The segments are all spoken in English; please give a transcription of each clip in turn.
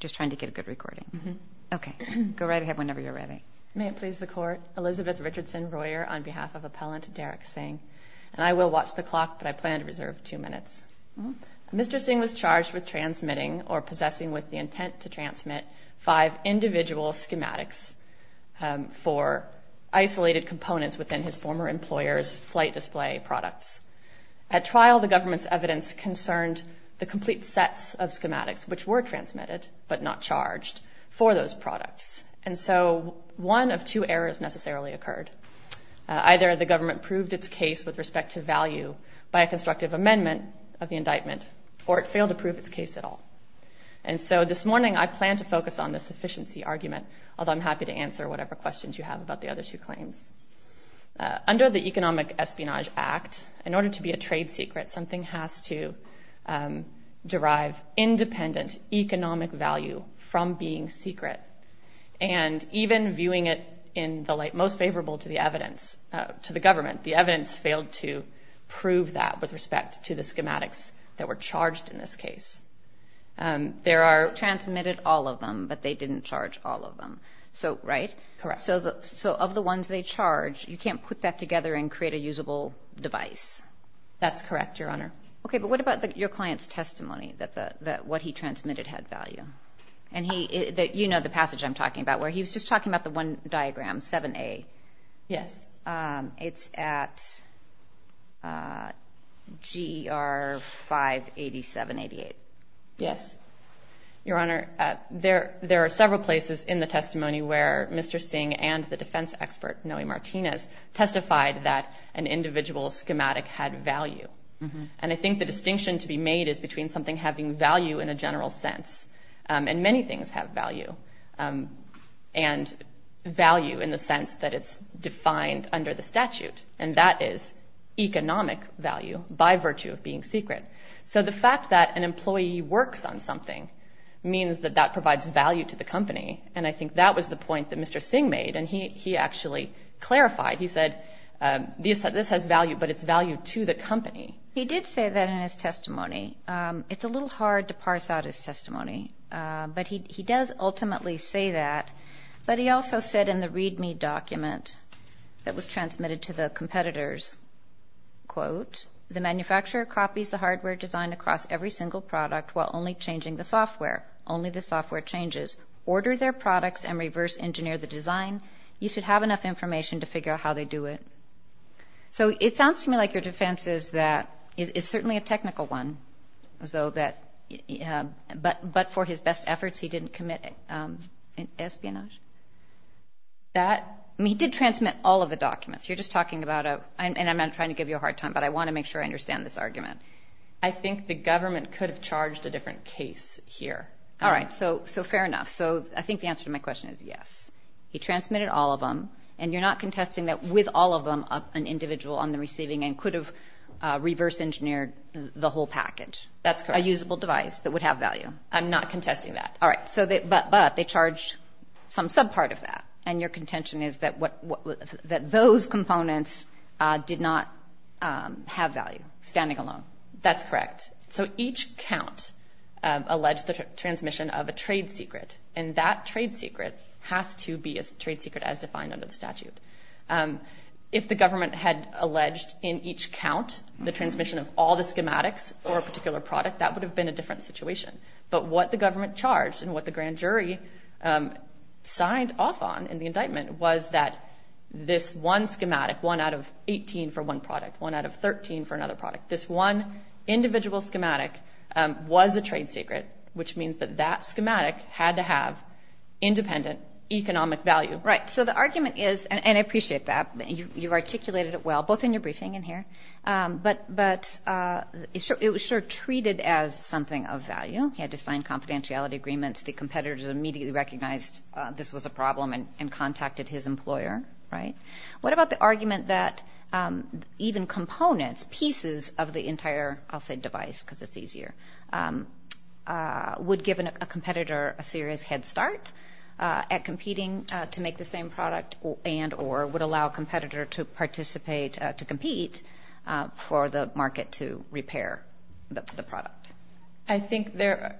Mr. Sing was charged with transmitting, or possessing with the intent to transmit, five individual schematics for isolated components within his former employer's flight display products. At trial, the government's evidence concerned the complete sets of schematics which were transmitted, but not charged, for those products. And so one of two errors necessarily occurred. Either the government proved its case with respect to value by a constructive amendment of the indictment, or it failed to prove its case at all. And so this morning I plan to focus on the sufficiency argument, although I'm happy to answer whatever questions you have about the other two claims. Under the Economic Espionage Act, in order to be a trade secret, something has to derive independent economic value from being secret. And even viewing it in the light most favorable to the evidence, to the government, the evidence failed to prove that with respect to the schematics that were charged in this case. There are Transmitted all of them, but they didn't charge all of them. So right? Correct. So of the ones they charge, you can't put that together and create a usable device? That's correct, Your Honor. Okay, but what about your client's testimony, that what he transmitted had value? And you know the passage I'm talking about, where he was just talking about the one diagram, 7A. Yes. It's at GER 58788. Yes. Your Honor, there are several places in the testimony where Mr. Singh and the defense expert, Noe Martinez, testified that an individual's schematic had value. And I think the distinction to be made is between something having value in a general sense, and many things have value, and value in the sense that it's defined under the statute, and that is economic value by virtue of being secret. So the fact that an employee works on something means that that provides value to the company, and I think that was the point that Mr. Singh made, and he actually clarified. He said, this has value, but it's value to the company. He did say that in his testimony. It's a little hard to parse out his testimony, but he does ultimately say that, but he also said in the readme document that was transmitted to the competitors, quote, the manufacturer copies the hardware design across every single product while only changing the software. Only the software changes. Order their products and reverse-engineer the design. You should have enough information to figure out how they do it. So it sounds to me like your defense is that it's certainly a technical one, but for his best efforts, he didn't commit espionage. I mean, he did transmit all of the documents. You're just talking about a, and I'm not trying to give you a hard time, but I want to make sure I understand this argument. I think the government could have charged a different case here. All right. So, so fair enough. So I think the answer to my question is yes. He transmitted all of them, and you're not contesting that with all of them, an individual on the receiving end could have reverse-engineered the whole package. That's correct. A usable device that would have value. I'm not contesting that. All right. So, but they charged some subpart of that, and your contention is that what, that those components did not have value, standing alone. That's correct. So each count alleged the transmission of a trade secret, and that trade secret has to be a trade secret as defined under the statute. If the government had alleged in each count the transmission of all the schematics for a particular product, that would have been a different situation. But what the government charged and what the grand jury signed off on in the indictment was that this one schematic, one out of 18 for one product, one out of 13 for another product, this one individual schematic was a trade secret, which means that that schematic had to have independent economic value. Right. So the argument is, and I appreciate that, you've articulated it well, both in your briefing and here, but it was sort of treated as something of value. He had to sign confidentiality agreements. The competitors immediately recognized this was a problem and contacted his employer, right? What about the argument that even components, pieces of the entire, I'll say device because it's easier, would give a competitor a serious head start at competing to make the same product and, or would allow a competitor to participate, to compete for the market to repair the product? I think there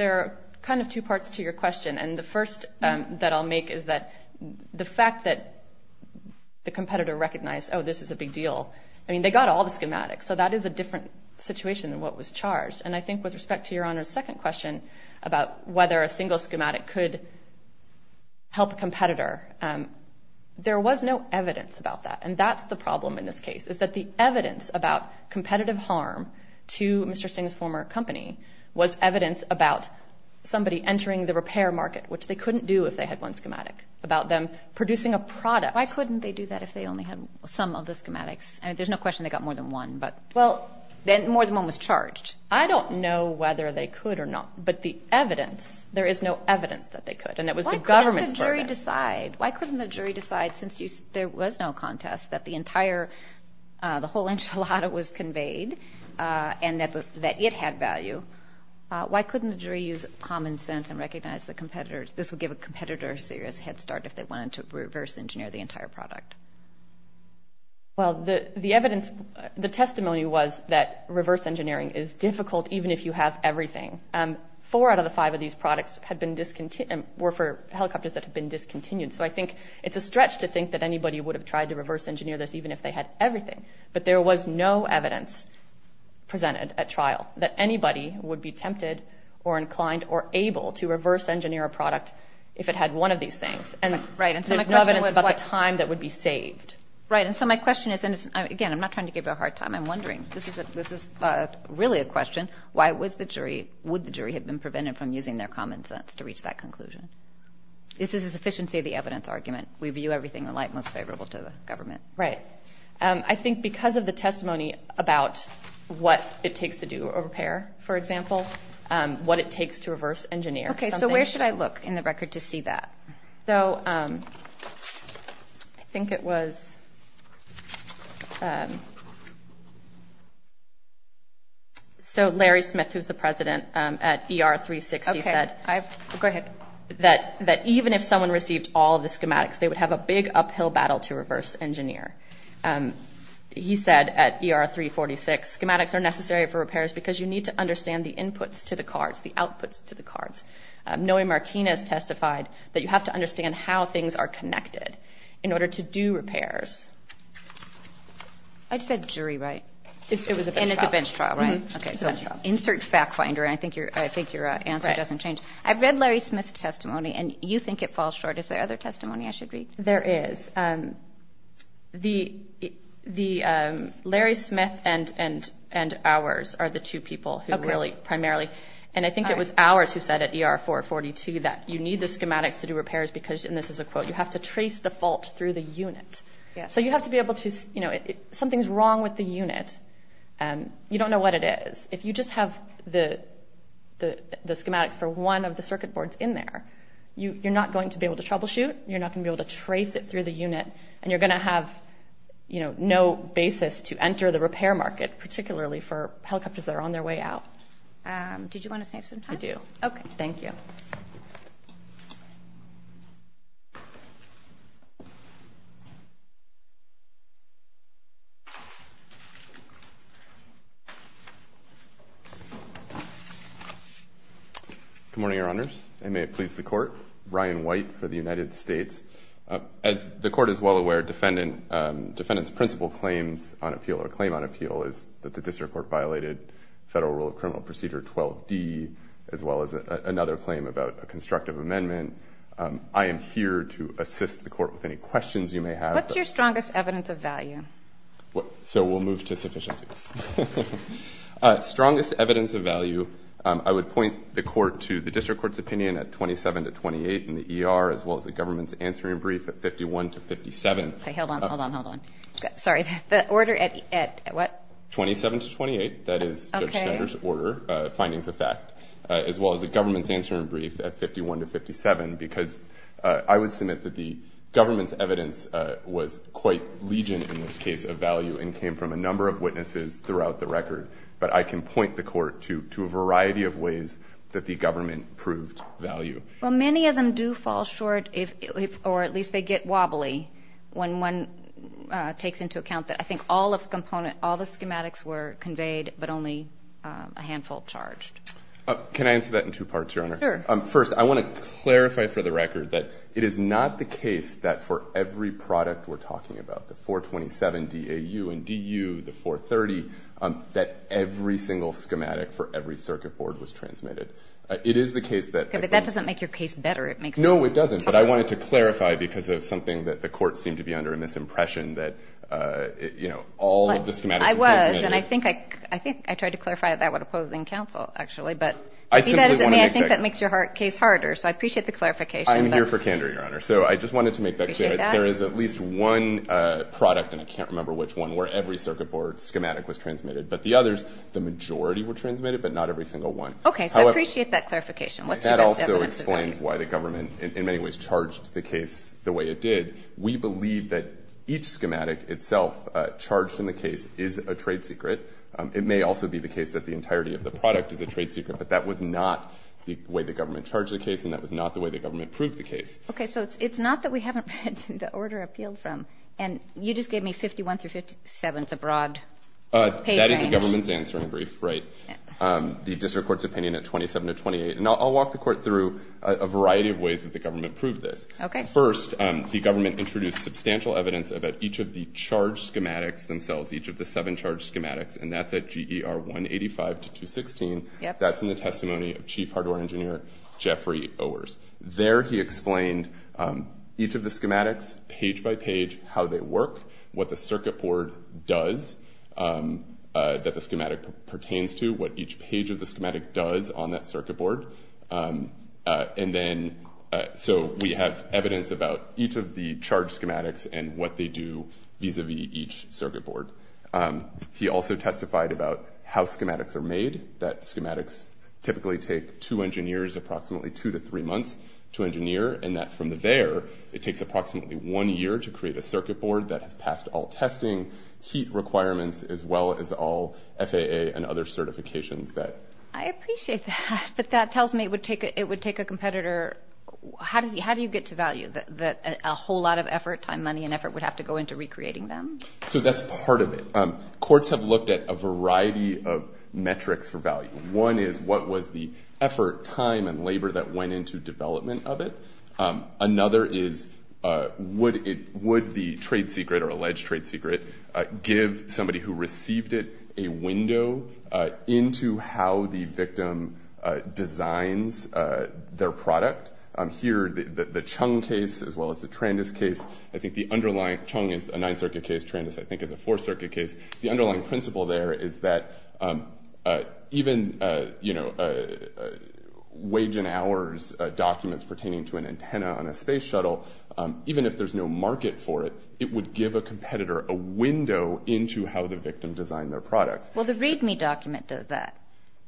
are kind of two parts to your question. And the first that I'll make is that the fact that the competitor recognized, oh, this is a big deal. I mean, they got all the schematics, so that is a different situation than what was charged. And I think with respect to Your Honor's second question about whether a single schematic could help a competitor, there was no evidence about that. And that's the problem in this case, is that the evidence about competitive harm to Mr. Company was evidence about somebody entering the repair market, which they couldn't do if they had one schematic, about them producing a product. Why couldn't they do that if they only had some of the schematics? I mean, there's no question they got more than one, but... Well, more than one was charged. I don't know whether they could or not, but the evidence, there is no evidence that they could. And it was the government's burden. Why couldn't the jury decide? Why couldn't the jury decide since there was no contest that the entire, the whole enchilada was conveyed and that it had value? Why couldn't the jury use common sense and recognize the competitors? This would give a competitor a serious head start if they wanted to reverse engineer the entire product. Well, the evidence, the testimony was that reverse engineering is difficult even if you have everything. Four out of the five of these products had been discontinued, were for helicopters that had been discontinued. So I think it's a stretch to think that anybody would have tried to reverse engineer this even if they had everything. But there was no evidence presented at trial that anybody would be tempted or inclined or able to reverse engineer a product if it had one of these things. And there's no evidence about the time that would be saved. Right. And so my question is, and again, I'm not trying to give you a hard time. I'm wondering, this is really a question, why would the jury have been prevented from using their common sense to reach that conclusion? This is a sufficiency of the evidence argument. We view everything in light most favorable to the government. Right. I think because of the testimony about what it takes to do a repair, for example, what it takes to reverse engineer. Okay. So where should I look in the record to see that? So I think it was, so Larry Smith, who's the president at ER 360 said that even if someone He said at ER 346, schematics are necessary for repairs because you need to understand the inputs to the cards, the outputs to the cards. Noe Martinez testified that you have to understand how things are connected in order to do repairs. I just said jury, right? It was a bench trial. And it's a bench trial, right? Okay. So insert fact finder. I think your answer doesn't change. I've read Larry Smith's testimony and you think it falls short. Is there other testimony I should read? There is. The Larry Smith and ours are the two people who really primarily, and I think it was ours who said at ER 442 that you need the schematics to do repairs because, and this is a quote, you have to trace the fault through the unit. So you have to be able to, you know, something's wrong with the unit. You don't know what it is. If you just have the schematics for one of the circuit boards in there, you're not going to be able to troubleshoot. You're not going to be able to trace it through the unit, and you're going to have, you know, no basis to enter the repair market, particularly for helicopters that are on their way out. Did you want to save some time? I do. Okay. Thank you. Good morning, Your Honors, and may it please the Court. I'm Ryan White for the United States. As the Court is well aware, defendant's principal claims on appeal or claim on appeal is that the District Court violated Federal Rule of Criminal Procedure 12D, as well as another claim about a constructive amendment. I am here to assist the Court with any questions you may have. What's your strongest evidence of value? So we'll move to sufficiency. Strongest evidence of value, I would point the Court to the District Court's opinion at 27 to 28 in the ER, as well as the government's answering brief at 51 to 57. Okay. Hold on, hold on, hold on. Sorry. The order at what? 27 to 28. Okay. That is Judge Sander's order, findings of fact, as well as the government's answering brief at 51 to 57, because I would submit that the government's evidence was quite legion in this case of value and came from a number of witnesses throughout the record. But I can point the Court to a variety of ways that the government proved value. Well, many of them do fall short, or at least they get wobbly, when one takes into account that I think all of the component, all the schematics were conveyed, but only a handful charged. Can I answer that in two parts, Your Honor? Sure. First, I want to clarify for the record that it is not the case that for every product we're talking about, the 427, DAU, and DU, the 430, that every single schematic for every circuit board was transmitted. It is the case that... Okay. But that doesn't make your case better. It makes it... No, it doesn't. But I wanted to clarify because of something that the Court seemed to be under a misimpression that, you know, all of the schematics were transmitted. I was. And I think I tried to clarify that when opposing counsel, actually. But... I simply want to make that... I think that makes your case harder. So I appreciate the clarification. I'm here for candor, Your Honor. So I just wanted to make that clear. Appreciate that. There is at least one product, and I can't remember which one, where every circuit board schematic was transmitted, but the others, the majority were transmitted, but not every single one. Okay. So I appreciate that clarification. What's your best evidence of that? That also explains why the government, in many ways, charged the case the way it did. We believe that each schematic itself charged in the case is a trade secret. It may also be the case that the entirety of the product is a trade secret, but that was not the way the government charged the case, and that was not the way the government proved the case. Okay. So it's not that we haven't read the order appealed from, and you just gave me 51 through 57. It's a broad page range. That is the government's answer in brief, right. The district court's opinion at 27 to 28, and I'll walk the court through a variety of ways that the government proved this. First, the government introduced substantial evidence about each of the charge schematics themselves, each of the seven charge schematics, and that's at GER 185 to 216. That's in the testimony of Chief Hardware Engineer Jeffrey Owers. There, he explained each of the schematics page by page, how they work, what the circuit board does that the schematic pertains to, what each page of the schematic does on that circuit board, and then so we have evidence about each of the charge schematics and what they do vis-a-vis each circuit board. He also testified about how schematics are made, that schematics typically take two engineers approximately two to three months to engineer, and that from there, it takes approximately one year to create a circuit board that has passed all testing, heat requirements, as well as all FAA and other certifications that... I appreciate that, but that tells me it would take a competitor... How do you get to value, that a whole lot of effort, time, money, and effort would have to go into recreating them? So that's part of it. Courts have looked at a variety of metrics for value. One is, what was the effort, time, and labor that went into development of it? Another is, would the trade secret, or alleged trade secret, give somebody who received it a window into how the victim designs their product? Here the Chung case, as well as the Trandis case, I think the underlying... Chung is a Ninth Circuit case, Trandis, I think, is a Fourth Circuit case. The underlying principle there is that even wage and hours documents pertaining to an antenna on a space shuttle, even if there's no market for it, it would give a competitor a window into how the victim designed their product. Well, the README document does that.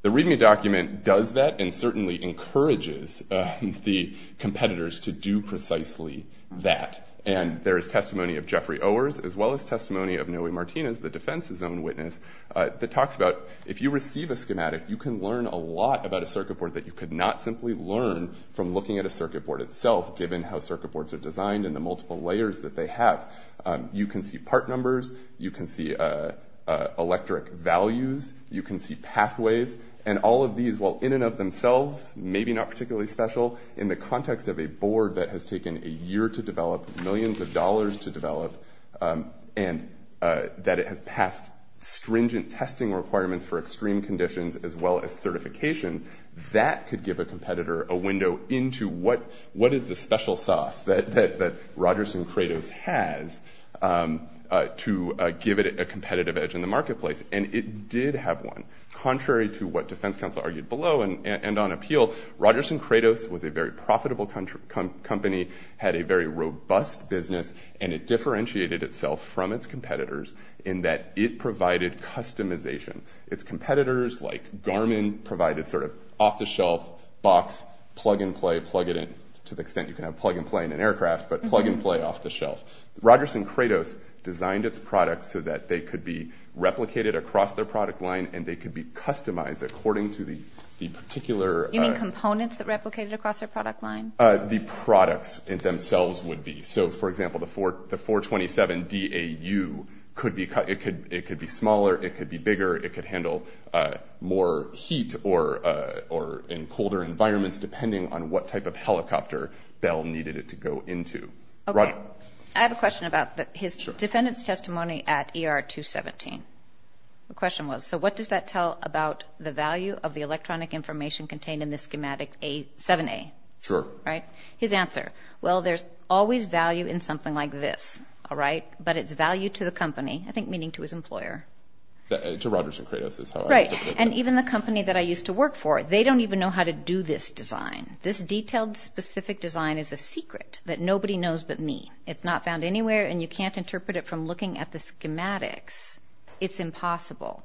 The README document does that, and certainly encourages the competitors to do precisely that. There is testimony of Jeffrey Owers, as well as testimony of Noe Martinez, the defense's own witness, that talks about, if you receive a schematic, you can learn a lot about a circuit board that you could not simply learn from looking at a circuit board itself, given how circuit boards are designed and the multiple layers that they have. You can see part numbers, you can see electric values, you can see pathways. All of these, while in and of themselves, maybe not particularly special, in the context of a board that has taken a year to develop, millions of dollars to develop, and that it has passed stringent testing requirements for extreme conditions, as well as certifications, that could give a competitor a window into what is the special sauce that Rogers and Kratos has to give it a competitive edge in the marketplace. And it did have one. Contrary to what defense counsel argued below and on appeal, Rogers and Kratos was a very large company, had a very robust business, and it differentiated itself from its competitors in that it provided customization. Its competitors, like Garmin, provided sort of off-the-shelf, box, plug-and-play, plug-it-in, to the extent you can have plug-and-play in an aircraft, but plug-and-play off-the-shelf. Rogers and Kratos designed its products so that they could be replicated across their product line, and they could be customized according to the particular- What the products themselves would be. So for example, the 427DAU, it could be smaller, it could be bigger, it could handle more heat or in colder environments, depending on what type of helicopter Bell needed it to go into. Okay. I have a question about his defendant's testimony at ER 217. The question was, so what does that tell about the value of the electronic information contained in the schematic 7A? Sure. Right? His answer. Well, there's always value in something like this, all right? But it's value to the company, I think meaning to his employer. To Rogers and Kratos is how I would interpret it. Right. And even the company that I used to work for, they don't even know how to do this design. This detailed, specific design is a secret that nobody knows but me. It's not found anywhere, and you can't interpret it from looking at the schematics. It's impossible.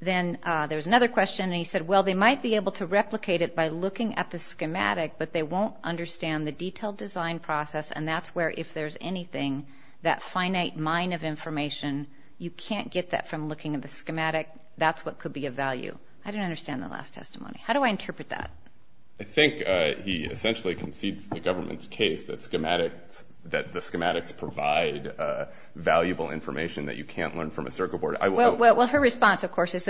Then, there was another question, and he said, well, they might be able to replicate it by looking at the schematic, but they won't understand the detailed design process, and that's where, if there's anything, that finite mine of information, you can't get that from looking at the schematic. That's what could be of value. I didn't understand the last testimony. How do I interpret that? I think he essentially concedes the government's case that the schematics provide valuable information that you can't learn from a circle board. Well, her response, of course, is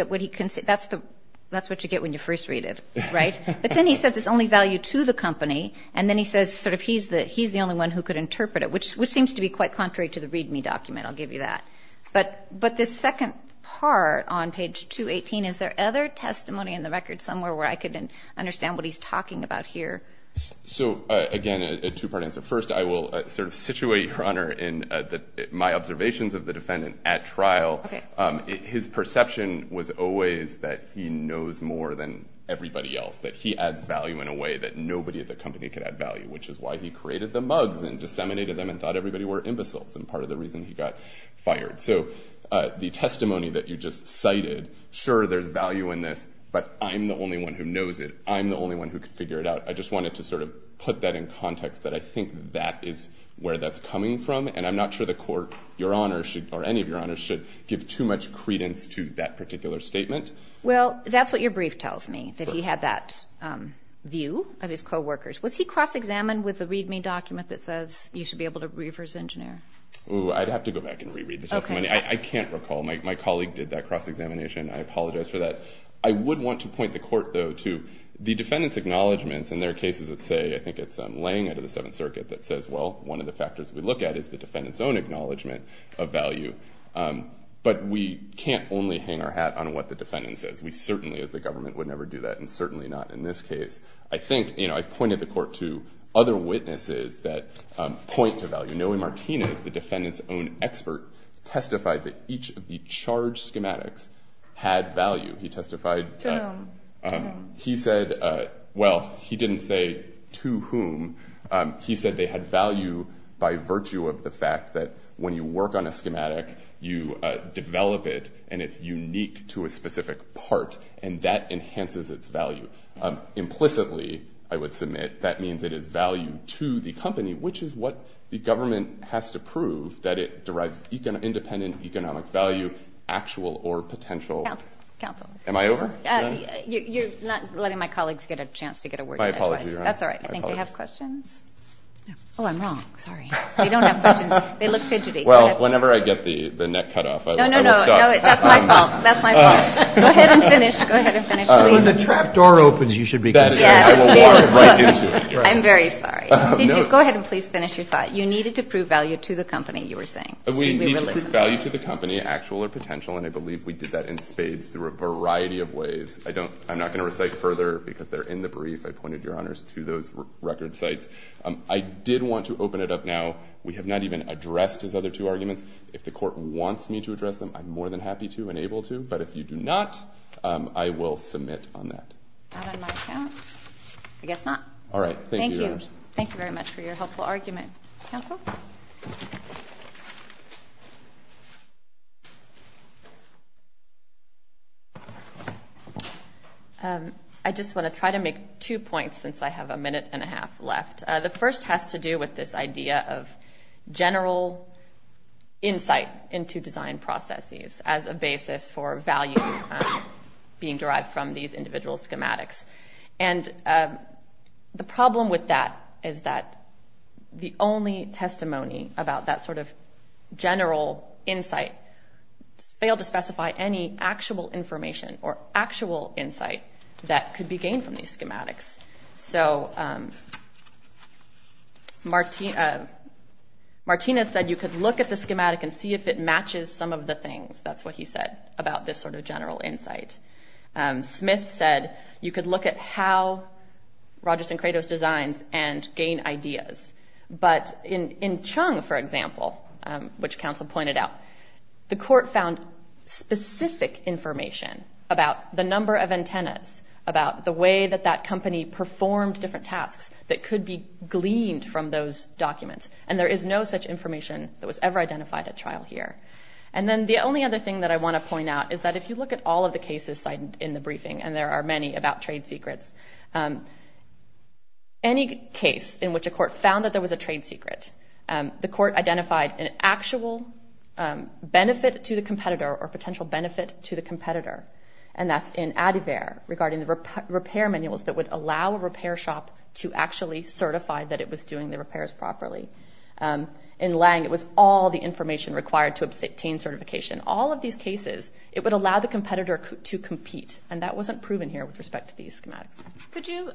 that's what you get when you first read it, right? But then he says it's only value to the company, and then he says he's the only one who could interpret it, which seems to be quite contrary to the README document, I'll give you that. But this second part on page 218, is there other testimony in the record somewhere where I could understand what he's talking about here? So again, a two-part answer. First, I will situate your Honor in my observations of the defendant at trial. His perception was always that he knows more than everybody else, that he adds value in a way that nobody at the company could add value, which is why he created the mugs and disseminated them and thought everybody were imbeciles, and part of the reason he got fired. So the testimony that you just cited, sure, there's value in this, but I'm the only one who knows it. I'm the only one who could figure it out. I just wanted to sort of put that in context, that I think that is where that's coming from, and I'm not sure the Court, your Honor, or any of your Honors, should give too much credence to that particular statement. Well, that's what your brief tells me, that he had that view of his co-workers. Was he cross-examined with the README document that says you should be able to read for his engineer? Oh, I'd have to go back and re-read the testimony. I can't recall. My colleague did that cross-examination, and I apologize for that. I would want to point the Court, though, to the defendant's acknowledgments in their cases that say, I think it's Lange out of the Seventh Circuit, that says, well, one of the factors we look at is the defendant's own acknowledgment of value, but we can't only hang our hat on what the defendant says. We certainly, as the government, would never do that, and certainly not in this case. I think, you know, I've pointed the Court to other witnesses that point to value. Noe Martinez, the defendant's own expert, testified that each of the charge schematics had value. He testified that... To whom? To whom? He said, well, he didn't say to whom. He said they had value by virtue of the fact that when you work on a schematic, you develop it and it's unique to a specific part, and that enhances its value. Implicitly, I would submit, that means it is value to the company, which is what the government has to prove, that it derives independent economic value, actual or potential. Counsel. Am I over? You're not letting my colleagues get a chance to get a word in. I apologize. That's all right. I think they have questions. Oh, I'm wrong. Sorry. They don't have questions. They look fidgety. Well, whenever I get the neck cut off, I will stop. No, no, no. That's my fault. That's my fault. Go ahead and finish. Go ahead and finish, please. When the trap door opens, you should be good to go. I will walk right into it. I'm very sorry. Go ahead and please finish your thought. You needed to prove value to the company, you were saying. We need to prove value to the company, actual or potential, and I believe we did that in spades through a variety of ways. I don't... I'm not going to recite further because they're in the brief. I pointed, Your Honors. to those record sites. I did want to open it up now. We have not even addressed his other two arguments. If the court wants me to address them, I'm more than happy to and able to, but if you do not, I will submit on that. Not on my account. I guess not. All right. Thank you, Your Honors. Thank you. Thank you very much for your helpful argument. Counsel? I just want to try to make two points since I have a minute and a half left. The first has to do with this idea of general insight into design processes as a basis for value being derived from these individual schematics. And the problem with that is that the only testimony about that sort of general insight failed to specify any actual information or actual insight that could be gained from these schematics. So Martina said you could look at the schematic and see if it matches some of the things. That's what he said about this sort of general insight. Smith said you could look at how Rogers and Kratos designs and gain ideas. But in Chung, for example, which counsel pointed out, the court found specific information about the number of antennas, about the way that that company performed different tasks that could be gleaned from those documents. And there is no such information that was ever identified at trial here. And then the only other thing that I want to point out is that if you look at all of the cases cited in the briefing, and there are many about trade secrets, any case in which a court found that there was a trade secret, the court identified an actual benefit to the competitor or potential benefit to the competitor. And that's in Adivere regarding the repair manuals that would allow a repair shop to actually certify that it was doing the repairs properly. In Lange, it was all the information required to obtain certification. All of these cases, it would allow the competitor to compete. And that wasn't proven here with respect to these schematics. Could you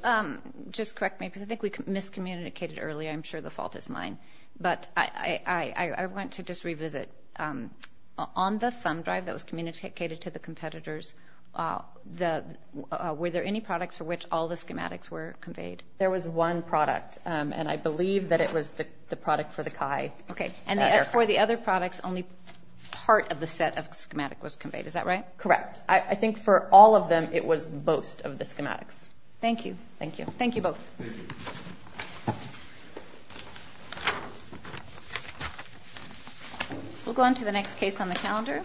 just correct me, because I think we miscommunicated earlier. I'm sure the fault is mine. But I want to just revisit. On the thumb drive that was communicated to the competitors, were there any products for which all the schematics were conveyed? There was one product. And I believe that it was the product for the CHI. Okay. And for the other products, only part of the set of schematic was conveyed. Is that right? Correct. I think for all of them, it was most of the schematics. Thank you. Thank you. Thank you both. Thank you. We'll go on to the next case on the calendar.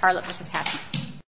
Harlott v. Hatton.